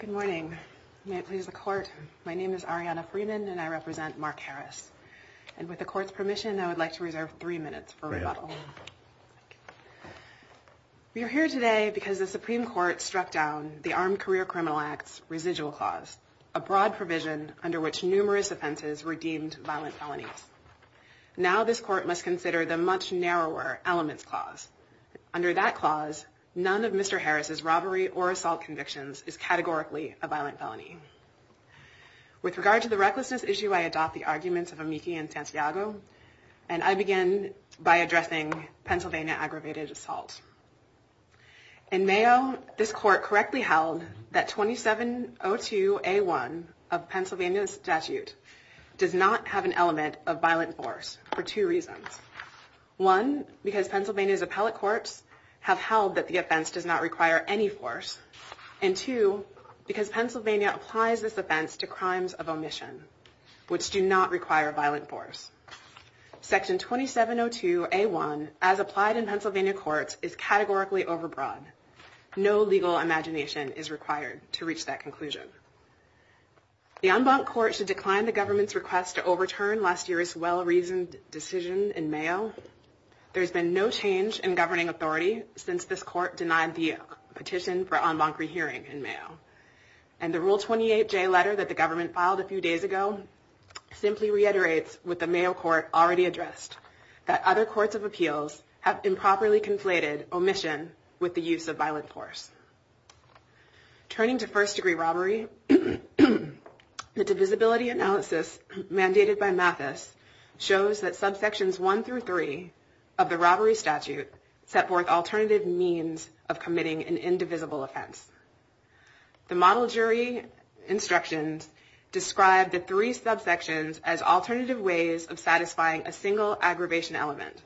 Good morning. May it please the court. My name is Ariana Freeman and I represent Mark Harris. And with the court's permission, I would like to reserve three minutes for rebuttal. We are here today because the Supreme Court struck down the Armed Career Criminal Act's residual clause, a broad provision under which numerous offenses were deemed violent felonies. Now this court must consider the much narrower elements clause. Under that clause, none of Mr. Harris' robbery or assault convictions is categorically a violent felony. With regard to the recklessness issue, I adopt the arguments of Amiki and Santiago, and I begin by addressing Pennsylvania aggravated assault. In Mayo, this court correctly held that 2702A1 of Pennsylvania's statute does not have an element of violent force for two reasons. One, because Pennsylvania's appellate courts have held that the offense does not require any force. And two, because Pennsylvania applies this offense to crimes of omission, which do not require violent force. Section 2702A1, as applied in Pennsylvania courts, is categorically overbroad. No legal imagination is required to reach that conclusion. The en banc court should decline the government's request to overturn last year's well-reasoned decision in Mayo. There has been no change in governing authority since this court denied the petition for en banc rehearing in Mayo. And the Rule 28J letter that the government filed a few days ago simply reiterates, with the Mayo court already addressed, that other courts of appeals have improperly conflated omission with the use of violent force. Turning to first-degree robbery, the divisibility analysis mandated by Mathis shows that subsections 1 through 3 of the robbery statute set forth alternative means of committing an indivisible offense. The model jury instructions describe the three subsections as alternative ways of satisfying a single aggravation element.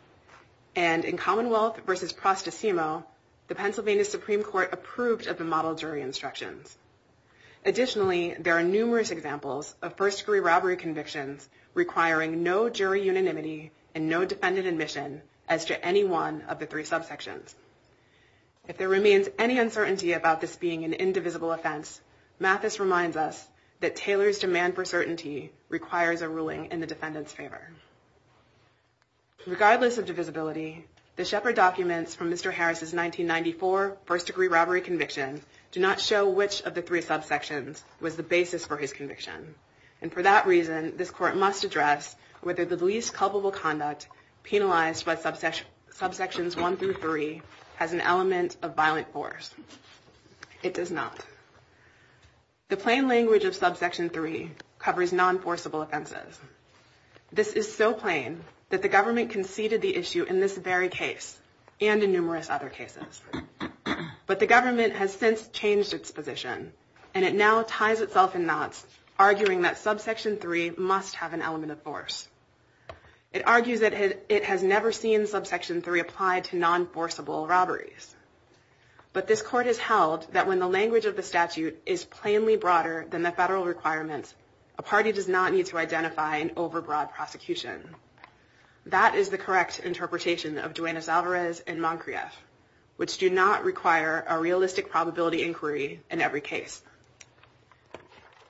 And in Commonwealth v. Prostesimo, the Pennsylvania Supreme Court approved of the model jury instructions. Additionally, there are numerous examples of first-degree robbery convictions requiring no jury unanimity and no defendant admission as to any one of the three subsections. If there remains any uncertainty about this being an indivisible offense, Mathis reminds us that Taylor's demand for certainty requires a ruling in the defendant's favor. Regardless of divisibility, the Shepard documents from Mr. Harris's 1994 first-degree robbery conviction do not show which of the three subsections was the basis for his conviction. And for that reason, this court must address whether the least culpable conduct penalized by subsections 1 through 3 has an element of violent force. It does not. The plain language of subsection 3 covers non-forcible offenses. This is so plain that the government conceded the issue in this very case and in numerous other cases. But the government has since changed its position, and it now ties itself in knots, arguing that subsection 3 must have an element of force. It argues that it has never seen subsection 3 applied to non-forcible robberies. But this court has held that when the language of the statute is plainly broader than the federal requirements, a party does not need to identify an overbroad prosecution. That is the correct interpretation of Duenas-Alvarez and Moncrieff, which do not require a realistic probability inquiry in every case.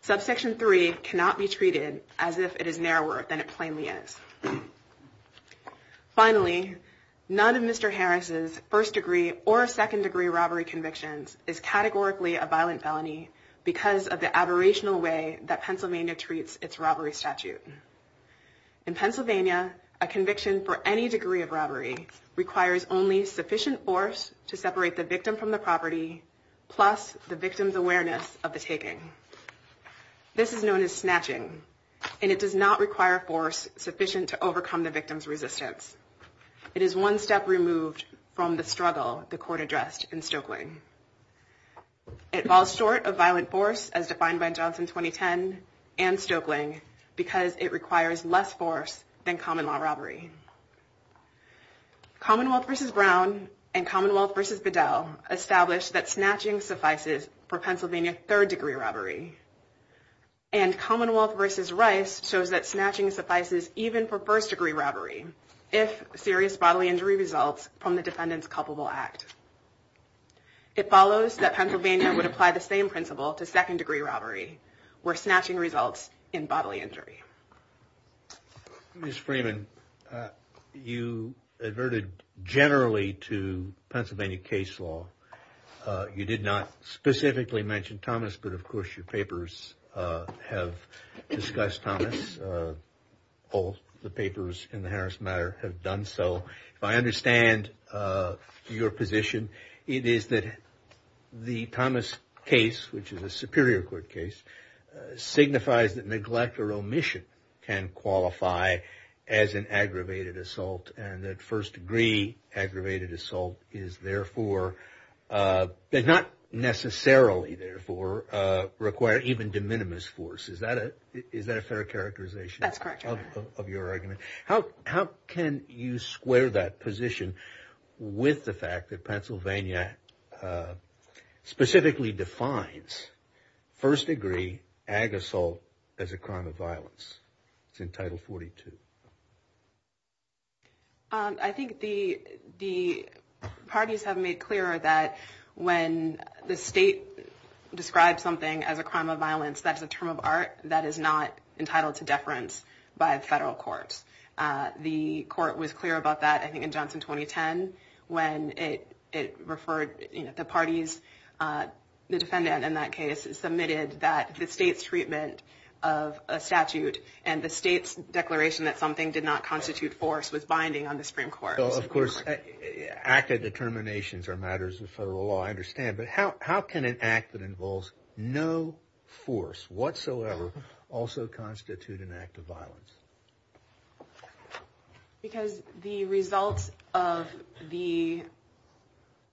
Subsection 3 cannot be treated as if it is narrower than it plainly is. Finally, none of Mr. Harris's first-degree or second-degree robbery convictions is categorically a violent felony because of the aberrational way that Pennsylvania treats its robbery statute. In Pennsylvania, a conviction for any degree of robbery requires only sufficient force to separate the victim from the property plus the victim's awareness of the taking. This is known as snatching, and it does not require force sufficient to overcome the victim's resistance. It is one step removed from the struggle the court addressed in Stokeling. It falls short of violent force, as defined by Johnson 2010 and Stokeling, because it requires less force than common-law robbery. Commonwealth v. Brown and Commonwealth v. Bedell established that snatching suffices for Pennsylvania third-degree robbery, and Commonwealth v. Rice shows that snatching suffices even for first-degree robbery if serious bodily injury results from the defendant's culpable act. It follows that Pennsylvania would apply the same principle to second-degree robbery where snatching results in bodily injury. Ms. Freeman, you adverted generally to Pennsylvania case law. You did not specifically mention Thomas, but of course your papers have discussed Thomas, all the papers in the Harris matter have done so. If I understand your position, it is that the Thomas case, which is a superior court case, signifies that neglect or omission can qualify as an aggravated assault, and that first-degree aggravated assault is therefore, but not necessarily therefore, require even de minimis force. Is that a fair characterization of your argument? How can you square that position with the fact that Pennsylvania specifically defines first-degree ag assault as a crime of violence? It's in Title 42. I think the parties have made clear that when the state describes something as a crime of violence, that is a term of art that is not entitled to deference by federal courts. The court was clear about that, I think, in Johnson 2010 when it referred the parties, the defendant in that case submitted that the state's treatment of a statute and the state's declaration that something did not constitute force was binding on the Supreme Court. Of course, active determinations are matters of federal law, I understand, but how can an act that involves no force whatsoever also constitute an act of violence? Because the result of the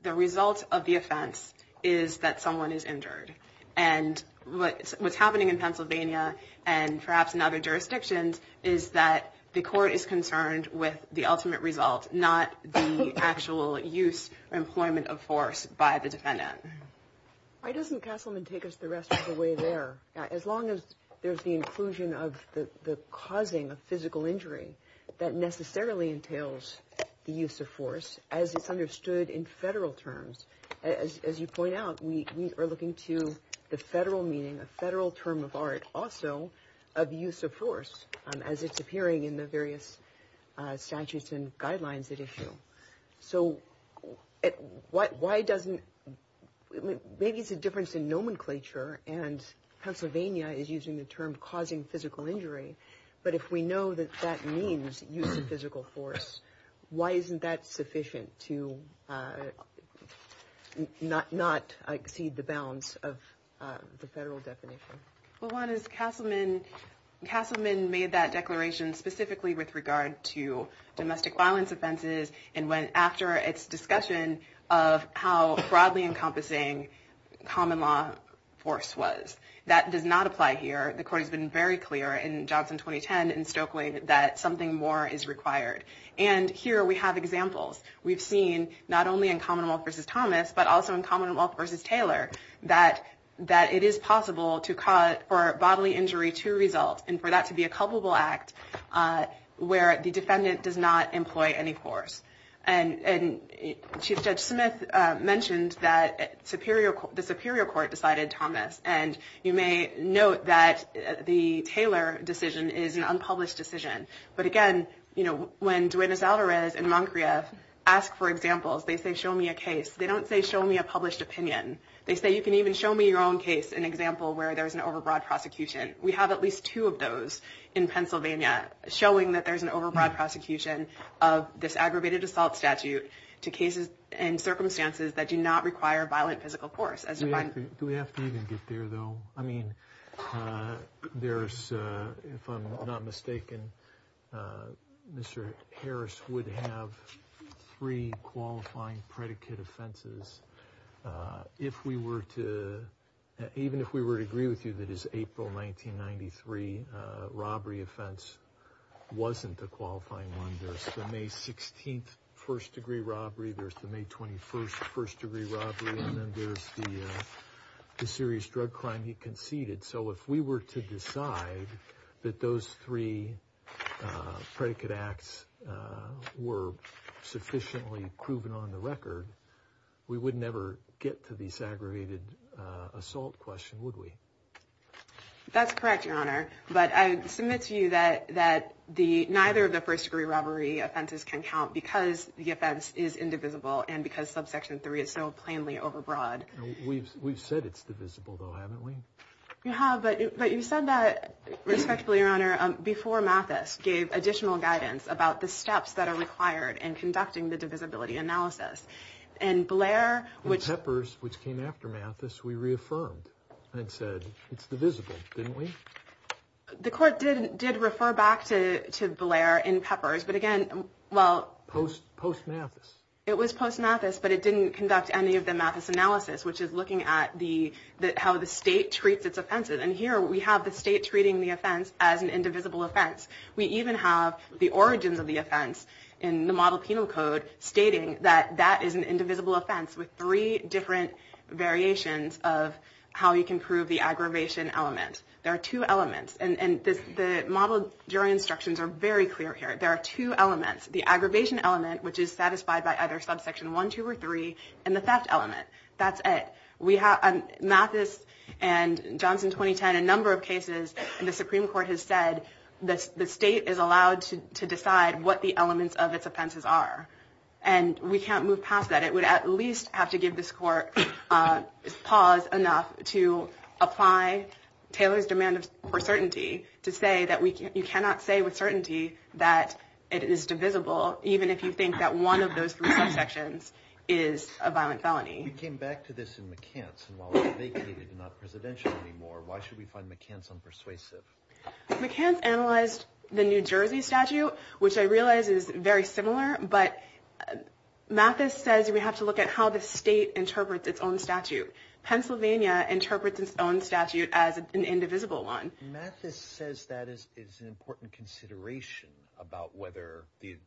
offense is that someone is injured, and what's happening in Pennsylvania and perhaps in other jurisdictions is that the court is concerned with the ultimate result, not the actual use or employment of force by the defendant. Why doesn't Castleman take us the rest of the way there? As long as there's the inclusion of the causing of physical injury that necessarily entails the use of force, as it's understood in federal terms, as you point out, we are looking to the federal meaning, a federal term of art also of use of force as it's appearing in the various statutes and guidelines that issue. So why doesn't, maybe it's a difference in nomenclature, and Pennsylvania is using the term causing physical injury, but if we know that that means use of physical force, why isn't that sufficient to not exceed the bounds of the federal definition? Well, one is Castleman made that declaration specifically with regard to domestic violence offenses and went after its discussion of how broadly encompassing common law force was. That does not apply here. The court has been very clear in Johnson 2010 in Stokely that something more is required. And here we have examples. We've seen not only in Commonwealth v. Thomas, but also in Commonwealth v. Taylor, that it is possible for bodily injury to result and for that to be a culpable act where the defendant does not employ any force. And Chief Judge Smith mentioned that the Superior Court decided Thomas, and you may note that the Taylor decision is an unpublished decision. But again, you know, when Duenas Alvarez and Moncrieff ask for examples, they say show me a case. They don't say show me a published opinion. They say you can even show me your own case, an example where there's an overbroad prosecution. We have at least two of those in Pennsylvania, showing that there's an overbroad prosecution of this aggravated assault statute to cases and circumstances that do not require violent physical force as defined. Do we have to even get there, though? I mean, there's, if I'm not mistaken, Mr. Harris would have three qualifying predicate offenses. If we were to, even if we were to agree with you that his April 1993 robbery offense wasn't a qualifying one, there's the May 16th first degree robbery, there's the May 21st first degree robbery, and then there's the serious drug crime he conceded. So if we were to decide that those three predicate acts were sufficiently proven on the record, we would never get to this aggravated assault question, would we? That's correct, Your Honor. But I submit to you that neither of the first degree robbery offenses can count because the offense is indivisible and because subsection 3 is so plainly overbroad. We've said it's divisible, though, haven't we? You have, but you said that, respectfully, Your Honor, before Mathis gave additional guidance about the steps that are required in conducting the divisibility analysis. In Peppers, which came after Mathis, we reaffirmed and said it's divisible, didn't we? The court did refer back to Blair in Peppers, but again, well... Post Mathis. It was post Mathis, but it didn't conduct any of the Mathis analysis, which is looking at how the state treats its offenses. And here we have the state treating the offense as an indivisible offense. We even have the origins of the offense in the model penal code stating that that is an indivisible offense with three different variations of how you can prove the aggravation element. There are two elements, and the model jury instructions are very clear here. There are two elements, the aggravation element, which is satisfied by either subsection 1, 2, or 3, and the theft element. That's it. Mathis and Johnson 2010, a number of cases, and the Supreme Court has said the state is allowed to decide what the elements of its offenses are. And we can't move past that. It would at least have to give this court pause enough to apply Taylor's demand for certainty to say that you cannot say with certainty that it is divisible, even if you think that one of those three subsections is a violent felony. We came back to this in McCants, and while it's vacated and not presidential anymore, why should we find McCants unpersuasive? McCants analyzed the New Jersey statute, which I realize is very similar, but Mathis says we have to look at how the state interprets its own statute. Pennsylvania interprets its own statute as an indivisible one. Mathis says that is an important consideration about whether the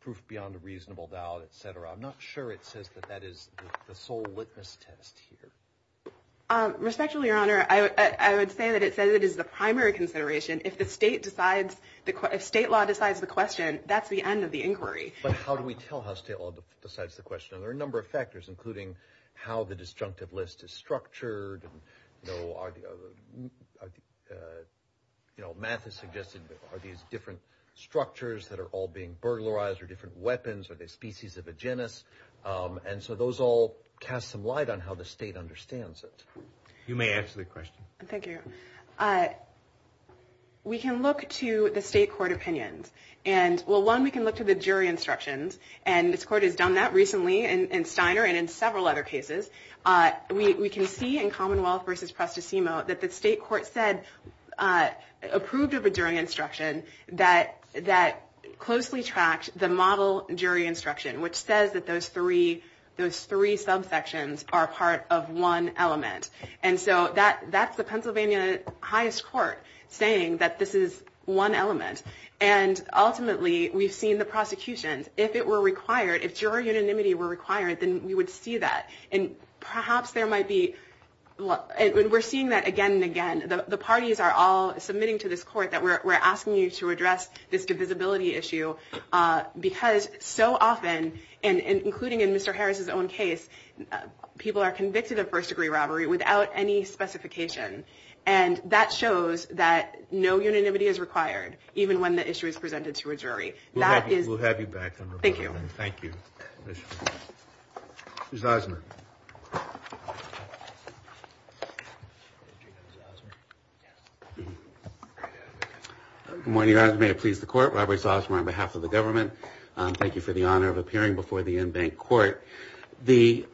proof beyond a reasonable doubt, et cetera. I'm not sure it says that that is the sole witness test here. Respectfully, Your Honor, I would say that it says it is the primary consideration. If the state decides, if state law decides the question, that's the end of the inquiry. But how do we tell how state law decides the question? There are a number of factors, including how the disjunctive list is structured. Mathis suggested are these different structures that are all being burglarized or different weapons? Are they species of a genus? And so those all cast some light on how the state understands it. You may answer the question. Thank you. We can look to the state court opinions. Well, one, we can look to the jury instructions. And this court has done that recently in Steiner and in several other cases. We can see in Commonwealth v. Presto Simo that the state court said, approved of a jury instruction that closely tracked the model jury instruction, which says that those three subsections are part of one element. And so that's the Pennsylvania highest court saying that this is one element. And ultimately, we've seen the prosecutions. If it were required, if jury unanimity were required, then we would see that. And perhaps there might be we're seeing that again and again. The parties are all submitting to this court that we're asking you to address this divisibility issue because so often, including in Mr. Harris's own case, people are convicted of first degree robbery without any specification. And that shows that no unanimity is required, even when the issue is presented to a jury. We'll have you back. Thank you. Thank you. Ms. Osmer. Good morning, Your Honor. May it please the court. Robert Osmer on behalf of the government. Thank you for the honor of appearing before the in-bank court. The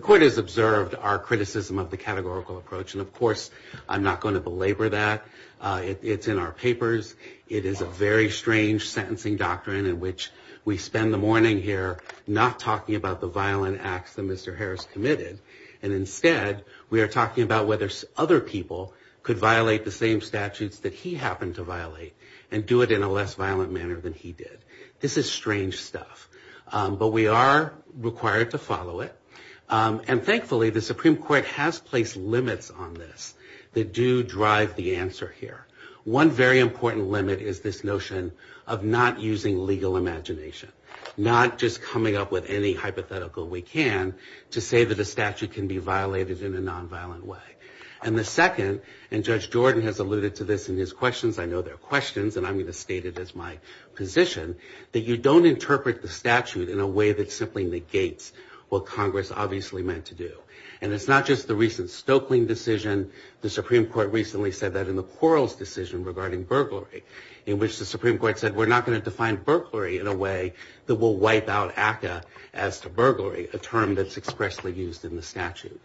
court has observed our criticism of the categorical approach. And, of course, I'm not going to belabor that. It's in our papers. It is a very strange sentencing doctrine in which we spend the morning here not talking about the violent acts that Mr. Harris committed. And instead, we are talking about whether other people could violate the same statutes that he happened to violate and do it in a less violent manner than he did. This is strange stuff. But we are required to follow it. And thankfully, the Supreme Court has placed limits on this that do drive the answer here. One very important limit is this notion of not using legal imagination, not just coming up with any hypothetical we can to say that a statute can be violated in a nonviolent way. And the second, and Judge Jordan has alluded to this in his questions. I know they're questions, and I'm going to state it as my position, that you don't interpret the statute in a way that simply negates what Congress obviously meant to do. And it's not just the recent Stoeckling decision. The Supreme Court recently said that in the Quarles decision regarding burglary, in which the Supreme Court said we're not going to define burglary in a way that will wipe out ACCA as to burglary, a term that's expressly used in the statute.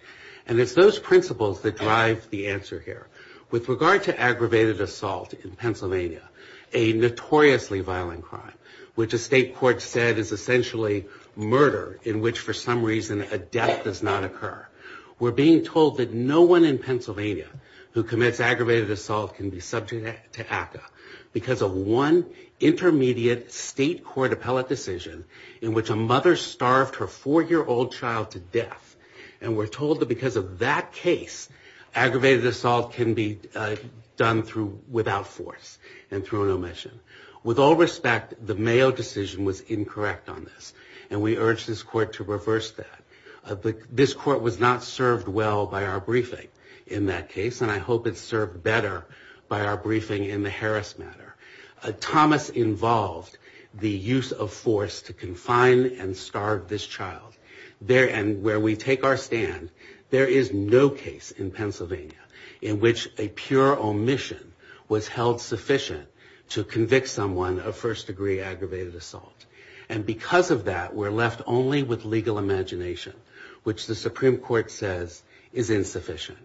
And it's those principles that drive the answer here. With regard to aggravated assault in Pennsylvania, a notoriously violent crime, which the state court said is essentially murder in which for some reason a death does not occur, we're being told that no one in Pennsylvania who commits aggravated assault can be subject to ACCA because of one intermediate state court appellate decision in which a mother starved her four-year-old child to death. And we're told that because of that case, aggravated assault can be done without force and through an omission. With all respect, the Mayo decision was incorrect on this, and we urge this court to reverse that. This court was not served well by our briefing in that case, and I hope it's served better by our briefing in the Harris matter. Thomas involved the use of force to confine and starve this child. And where we take our stand, there is no case in Pennsylvania in which a pure omission was held sufficient to convict someone of first-degree aggravated assault. And because of that, we're left only with legal imagination, which the Supreme Court says is insufficient.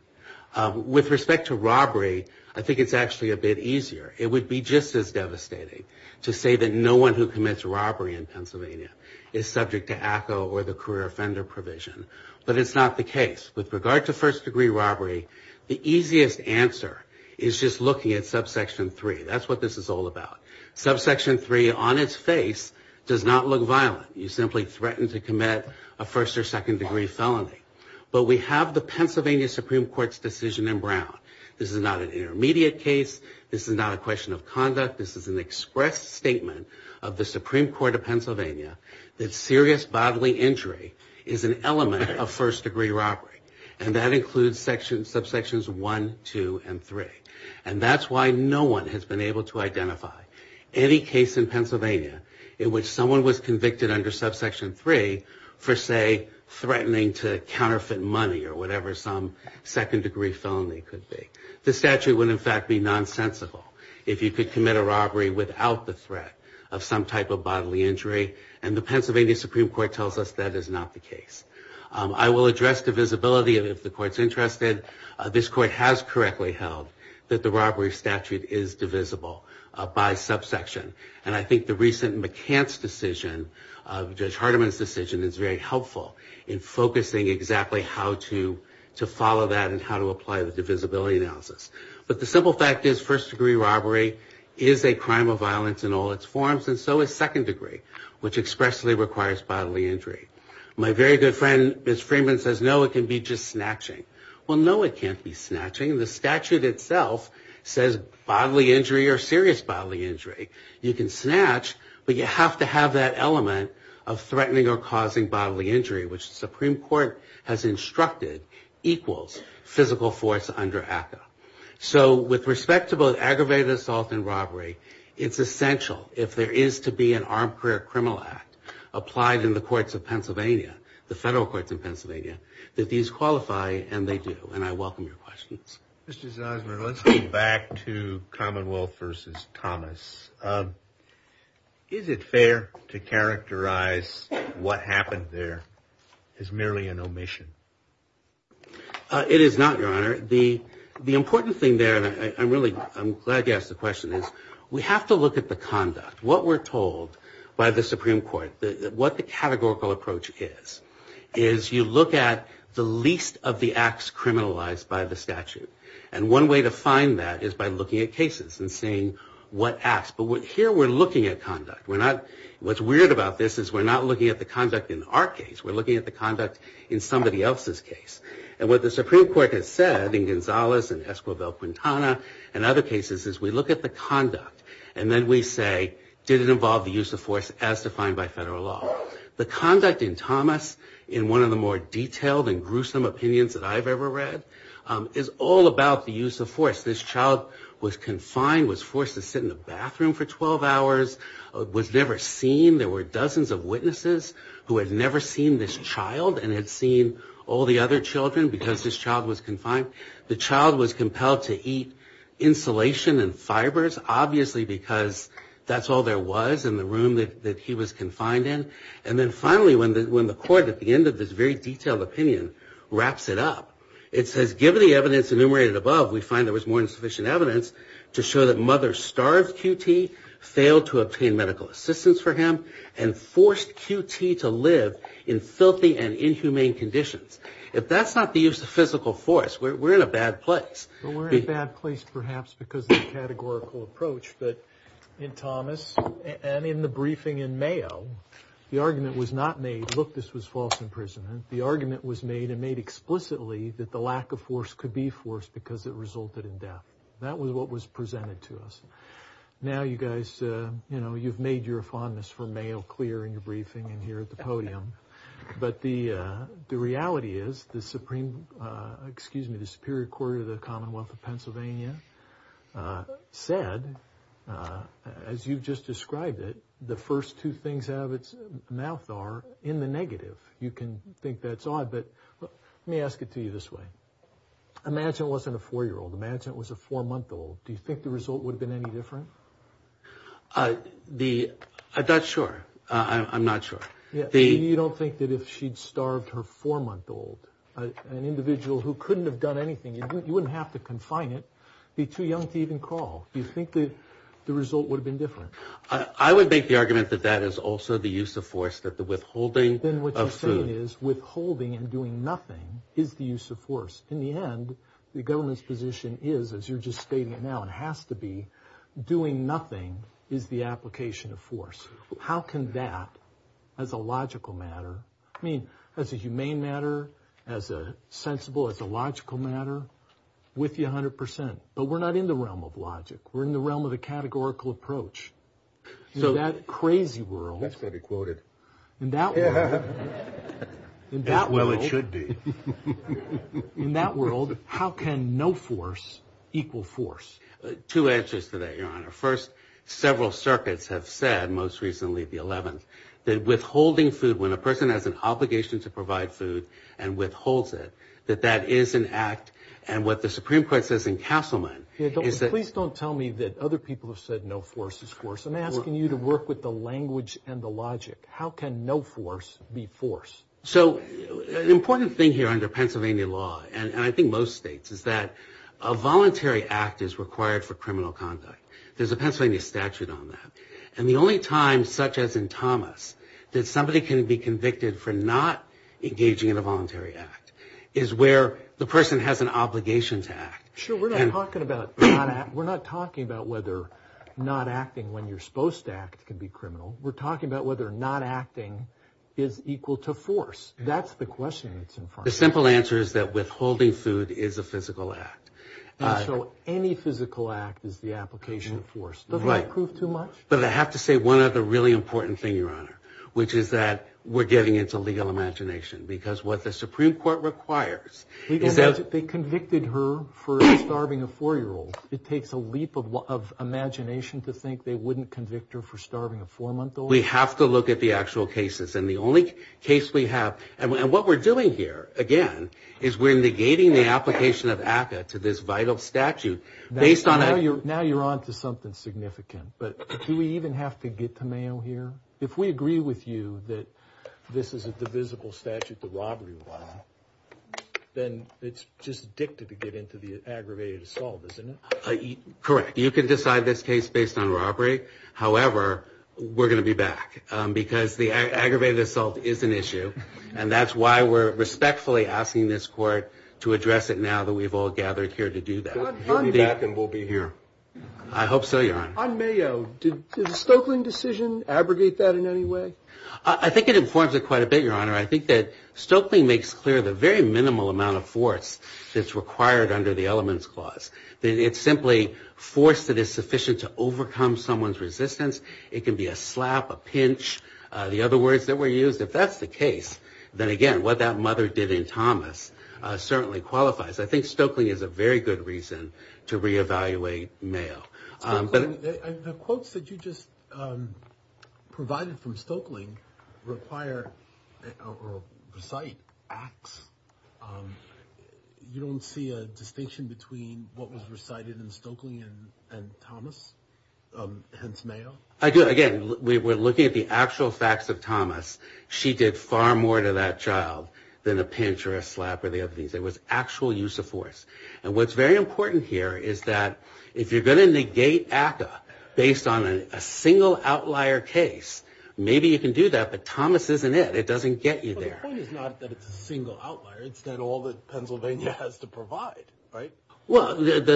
With respect to robbery, I think it's actually a bit easier. It would be just as devastating to say that no one who commits robbery in Pennsylvania is subject to ACCA or the career offender provision, but it's not the case. With regard to first-degree robbery, the easiest answer is just looking at subsection 3. That's what this is all about. Subsection 3, on its face, does not look violent. You simply threaten to commit a first- or second-degree felony. But we have the Pennsylvania Supreme Court's decision in Brown. This is not an intermediate case. This is not a question of conduct. This is an express statement of the Supreme Court of Pennsylvania that serious bodily injury is an element of first-degree robbery, and that includes subsections 1, 2, and 3. And that's why no one has been able to identify any case in Pennsylvania in which someone was convicted under subsection 3 for, say, threatening to counterfeit money or whatever some second-degree felony could be. This statute would, in fact, be nonsensical if you could commit a robbery without the threat of some type of bodily injury, and the Pennsylvania Supreme Court tells us that is not the case. I will address the visibility of it if the Court's interested. This Court has correctly held that the robbery statute is divisible by subsection, and I think the recent McCants decision, Judge Hardiman's decision, is very helpful in focusing exactly how to follow that and how to apply the divisibility analysis. But the simple fact is first-degree robbery is a crime of violence in all its forms, and so is second-degree, which expressly requires bodily injury. My very good friend Ms. Freeman says, no, it can be just snatching. Well, no, it can't be snatching. The statute itself says bodily injury or serious bodily injury. You can snatch, but you have to have that element of threatening or causing bodily injury, which the Supreme Court has instructed equals physical force under ACCA. So with respect to both aggravated assault and robbery, it's essential if there is to be an Armed Career Criminal Act applied in the courts of Pennsylvania, the federal courts in Pennsylvania, that these qualify, and they do, and I welcome your questions. Mr. Zanzibar, let's go back to Commonwealth v. Thomas. Is it fair to characterize what happened there as merely an omission? It is not, Your Honor. The important thing there, and I'm glad you asked the question, is we have to look at the conduct, what we're told by the Supreme Court, what the categorical approach is, is you look at the least of the acts criminalized by the statute. And one way to find that is by looking at cases and seeing what acts. But here we're looking at conduct. What's weird about this is we're not looking at the conduct in our case. We're looking at the conduct in somebody else's case. And what the Supreme Court has said in Gonzalez and Esquivel-Quintana and other cases is we look at the conduct, and then we say, did it involve the use of force as defined by federal law? The conduct in Thomas, in one of the more detailed and gruesome opinions that I've ever read, is all about the use of force. This child was confined, was forced to sit in the bathroom for 12 hours, was never seen. There were dozens of witnesses who had never seen this child and had seen all the other children because this child was confined. The child was compelled to eat insulation and fibers, obviously because that's all there was in the room that he was confined in. And then finally, when the court, at the end of this very detailed opinion, wraps it up, it says given the evidence enumerated above, we find there was more than sufficient evidence to show that mother starved QT, failed to obtain medical assistance for him, and forced QT to live in filthy and inhumane conditions. If that's not the use of physical force, we're in a bad place. Well, we're in a bad place perhaps because of the categorical approach, but in Thomas and in the briefing in Mayo, the argument was not made, look, this was false imprisonment. The argument was made and made explicitly that the lack of force could be forced because it resulted in death. That was what was presented to us. Now you guys, you know, you've made your fondness for Mayo clear in your briefing and here at the podium. But the reality is the Supreme, excuse me, the Superior Court of the Commonwealth of Pennsylvania said, as you've just described it, the first two things out of its mouth are in the negative. You can think that's odd, but let me ask it to you this way. Imagine it wasn't a four-year-old. Imagine it was a four-month-old. Do you think the result would have been any different? I'm not sure. I'm not sure. You don't think that if she'd starved her four-month-old, an individual who couldn't have done anything, you wouldn't have to confine it, be too young to even crawl. Do you think the result would have been different? I would make the argument that that is also the use of force, that the withholding of food. Then what you're saying is withholding and doing nothing is the use of force. In the end, the government's position is, as you're just stating it now, and has to be, doing nothing is the application of force. How can that, as a logical matter, I mean, as a humane matter, as a sensible, as a logical matter, with you 100%, but we're not in the realm of logic. We're in the realm of the categorical approach. In that crazy world. That's got to be quoted. In that world. As well it should be. In that world, how can no force equal force? Two answers to that, Your Honor. First, several circuits have said, most recently the 11th, that withholding food, when a person has an obligation to provide food and withholds it, that that is an act. And what the Supreme Court says in Castleman is that. Please don't tell me that other people have said no force is force. I'm asking you to work with the language and the logic. How can no force be force? So an important thing here under Pennsylvania law, and I think most states, is that a voluntary act is required for criminal conduct. There's a Pennsylvania statute on that. And the only time, such as in Thomas, that somebody can be convicted for not engaging in a voluntary act is where the person has an obligation to act. Sure, we're not talking about not acting. We're not talking about whether not acting when you're supposed to act can be criminal. We're talking about whether not acting is equal to force. That's the question that's in front of me. The simple answer is that withholding food is a physical act. So any physical act is the application of force. Doesn't that prove too much? But I have to say one other really important thing, Your Honor, which is that we're getting into legal imagination because what the Supreme Court requires is that... They convicted her for starving a 4-year-old. It takes a leap of imagination to think they wouldn't convict her for starving a 4-month-old. We have to look at the actual cases. And the only case we have... And what we're doing here, again, is we're negating the application of ACCA to this vital statute based on... Now you're on to something significant. But do we even have to get to Mayo here? If we agree with you that this is a divisible statute, the robbery one, then it's just dictative to get into the aggravated assault, isn't it? Correct. You can decide this case based on robbery. However, we're going to be back because the aggravated assault is an issue. And that's why we're respectfully asking this court to address it now that we've all gathered here to do that. We'll be back and we'll be here. I hope so, Your Honor. On Mayo, did the Stoeckling decision abrogate that in any way? I think it informs it quite a bit, Your Honor. I think that Stoeckling makes clear the very minimal amount of force that's required under the Elements Clause. It's simply force that is sufficient to overcome someone's resistance. It can be a slap, a pinch, the other words that were used. If that's the case, then again, what that mother did in Thomas certainly qualifies. I think Stoeckling is a very good reason to reevaluate Mayo. Stoeckling, the quotes that you just provided from Stoeckling require or recite acts. You don't see a distinction between what was recited in Stoeckling and Thomas, hence Mayo. Again, we're looking at the actual facts of Thomas. She did far more to that child than a pinch or a slap or the other things. It was actual use of force. And what's very important here is that if you're going to negate ACCA based on a single outlier case, maybe you can do that, but Thomas isn't it. It doesn't get you there. The point is not that it's a single outlier. It's not all that Pennsylvania has to provide, right? Well, it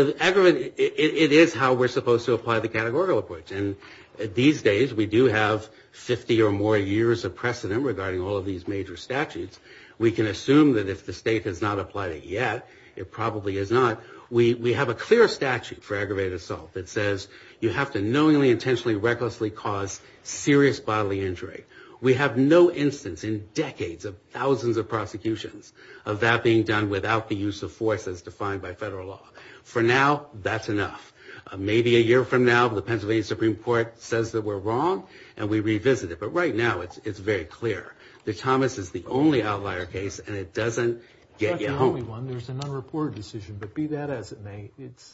is how we're supposed to apply the categorical approach. And these days we do have 50 or more years of precedent regarding all of these major statutes. We can assume that if the state has not applied it yet, it probably is not. We have a clear statute for aggravated assault that says you have to knowingly, intentionally, recklessly cause serious bodily injury. We have no instance in decades of thousands of prosecutions of that being done without the use of force as defined by federal law. For now, that's enough. Maybe a year from now the Pennsylvania Supreme Court says that we're wrong and we revisit it. But right now it's very clear that Thomas is the only outlier case and it doesn't get you home. It's not the only one. There's an unreported decision. But be that as it may,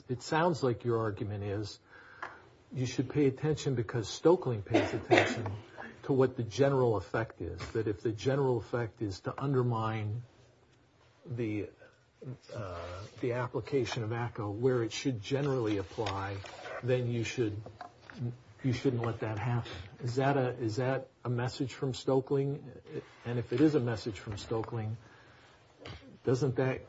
it sounds like your argument is you should pay attention because Stoeckling pays attention to what the general effect is, that if the general effect is to undermine the application of ACCO where it should generally apply, then you shouldn't let that happen. Is that a message from Stoeckling? And if it is a message from Stoeckling, doesn't that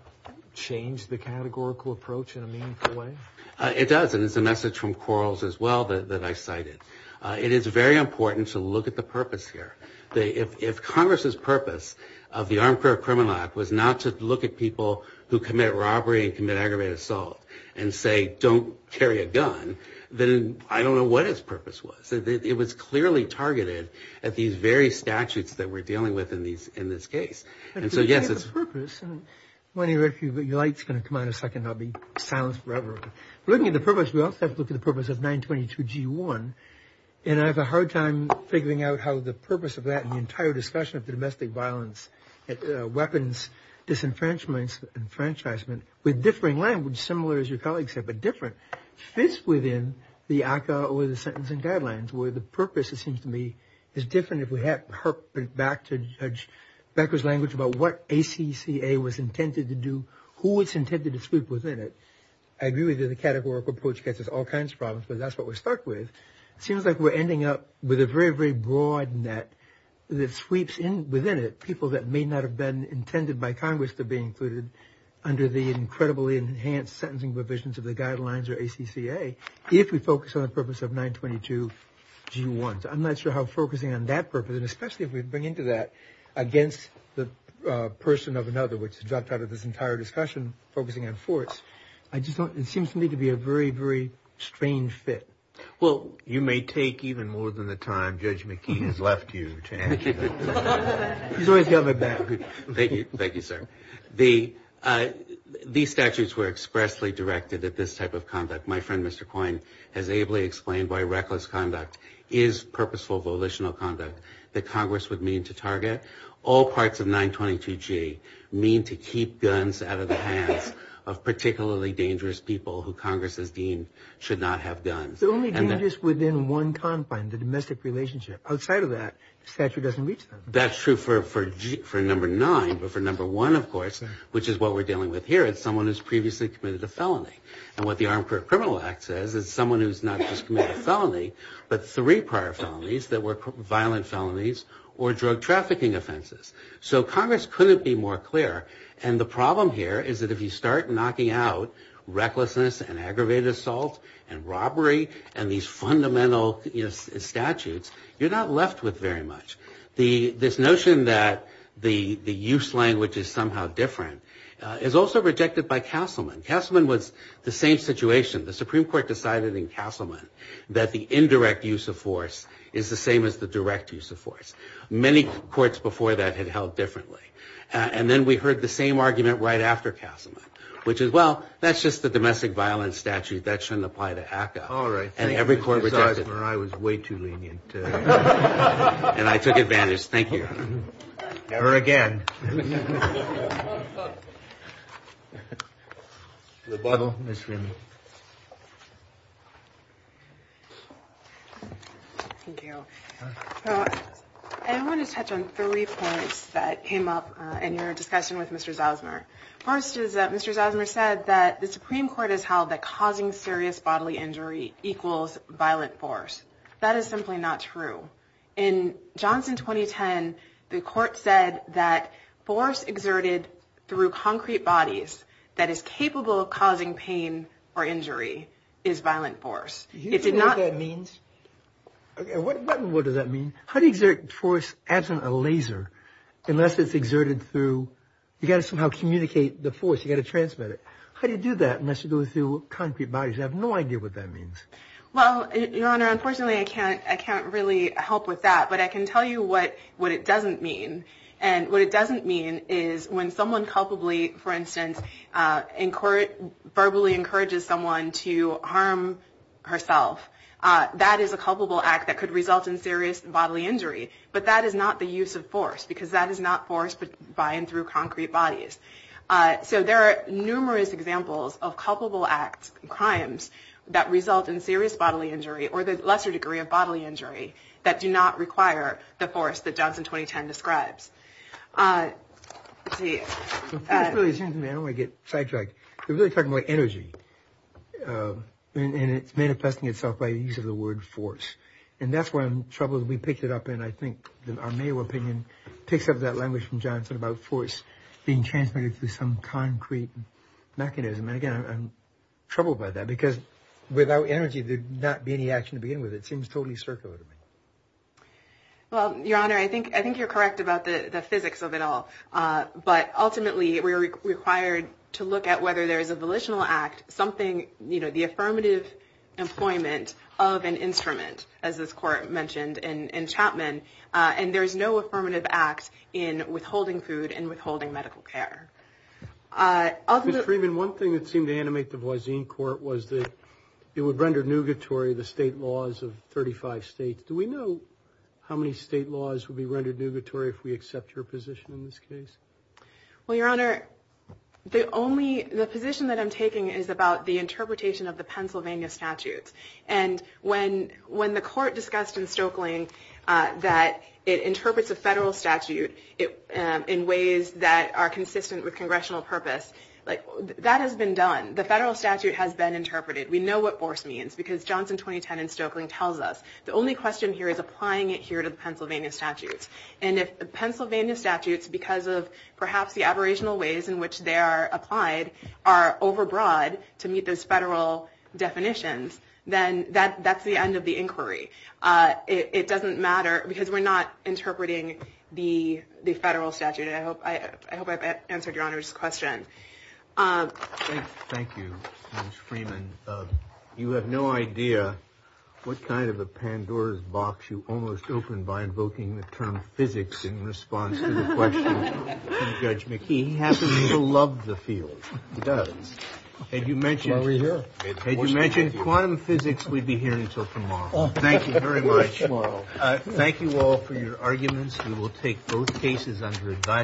change the categorical approach in a meaningful way? It does. And it's a message from Quarles as well that I cited. It is very important to look at the purpose here. If Congress's purpose of the Armed Career Criminal Act was not to look at people who commit robbery and commit aggravated assault and say, don't carry a gun, then I don't know what its purpose was. It was clearly targeted at these very statutes that we're dealing with in this case. And so, yes, it's – But if you look at the purpose – I want you to read a few, but your light's going to come on in a second and I'll be silenced forever. But looking at the purpose, we also have to look at the purpose of 922G1. And I have a hard time figuring out how the purpose of that and the entire discussion of domestic violence, weapons, disenfranchisement, with differing language, similar as your colleague said, but different, fits within the ACCA or the sentencing guidelines, where the purpose, it seems to me, is different if we had her – back to Judge Becker's language about what ACCA was intended to do, who it's intended to sweep within it. I agree with you the categorical approach gets us all kinds of problems, but that's what we're stuck with. It seems like we're ending up with a very, very broad net that sweeps within it people that may not have been intended by Congress to be included under the incredibly enhanced sentencing provisions of the guidelines or ACCA if we focus on the purpose of 922G1. So I'm not sure how focusing on that purpose, and especially if we bring into that against the person of another, which dropped out of this entire discussion, focusing on force, it seems to me to be a very, very strange fit. Well, you may take even more than the time Judge McKee has left you to answer that. He's always got my back. Thank you, sir. These statutes were expressly directed at this type of conduct. My friend, Mr. Coyne, has ably explained why reckless conduct is purposeful, volitional conduct that Congress would mean to target. All parts of 922G mean to keep guns out of the hands of particularly dangerous people who Congress has deemed should not have guns. The only dangers within one confine, the domestic relationship. Outside of that, the statute doesn't reach them. That's true for number nine, but for number one, of course, which is what we're dealing with here, it's someone who's previously committed a felony. And what the Armed Career Criminal Act says is someone who's not just committed a felony, but three prior felonies that were violent felonies or drug trafficking offenses. So Congress couldn't be more clear. And the problem here is that if you start knocking out recklessness and aggravated assault and robbery and these fundamental statutes, you're not left with very much. This notion that the use language is somehow different is also rejected by Castleman. Castleman was the same situation. The Supreme Court decided in Castleman that the indirect use of force is the same as the direct use of force. Many courts before that had held differently. And then we heard the same argument right after Castleman, which is, well, that's just the domestic violence statute. That shouldn't apply to ACCA. And every court rejected it. I was way too lenient. And I took advantage. Thank you, Your Honor. Never again. Thank you. I want to touch on three points that came up in your discussion with Mr. Zausner. First is that Mr. Zausner said that the Supreme Court has held that causing serious bodily injury equals violent force. That is simply not true. direct use of force. Force exerted through concrete bodies that is capable of causing pain or injury is violent force. Do you know what that means? What does that mean? How do you exert force as in a laser unless it's exerted through, you've got to somehow communicate the force. You've got to transmit it. How do you do that unless you go through concrete bodies? I have no idea what that means. Well, Your Honor, unfortunately I can't really help with that. But I can tell you what it doesn't mean. And what it doesn't mean is when someone culpably, for instance, verbally encourages someone to harm herself, that is a culpable act that could result in serious bodily injury. But that is not the use of force because that is not force by and through concrete bodies. So there are numerous examples of culpable act crimes that result in serious bodily injury or the lesser degree of bodily injury that do not So force really seems to me, I don't want to get sidetracked, you're really talking about energy and it's manifesting itself by the use of the word force. And that's where I'm troubled. We picked it up and I think our mayoral opinion picks up that language from Johnson about force being transmitted through some concrete mechanism. And, again, I'm troubled by that because without energy, there'd not be any action to begin with. It seems totally circular to me. Well, Your Honor, I think you're correct about the physics of it all. But, ultimately, we are required to look at whether there is a volitional act, something, you know, the affirmative employment of an instrument, as this court mentioned in Chapman, and there is no affirmative act in withholding food and withholding medical care. Ms. Freeman, one thing that seemed to animate the Voisin court was that it would render nugatory the state laws of 35 states. Do we know how many state laws would be rendered nugatory if we accept your position in this case? Well, Your Honor, the only position that I'm taking is about the interpretation of the Pennsylvania statutes. And when the court discussed in Stokeling that it interprets a federal statute in ways that are consistent with congressional purpose, that has been done. The federal statute has been interpreted. We know what force means because Johnson 2010 in Stokeling tells us, the only question here is applying it here to the Pennsylvania statutes. And if the Pennsylvania statutes, because of perhaps the aberrational ways in which they are applied, are overbroad to meet those federal definitions, then that's the end of the inquiry. It doesn't matter because we're not interpreting the federal statute. And I hope I've answered Your Honor's question. Thank you, Ms. Freeman. You have no idea what kind of a Pandora's box you almost opened by invoking the term physics in response to the question from Judge McKee. He happens to love the field. He does. Had you mentioned quantum physics, we'd be here until tomorrow. Thank you very much. Thank you all for your arguments. We will take both cases under advisory.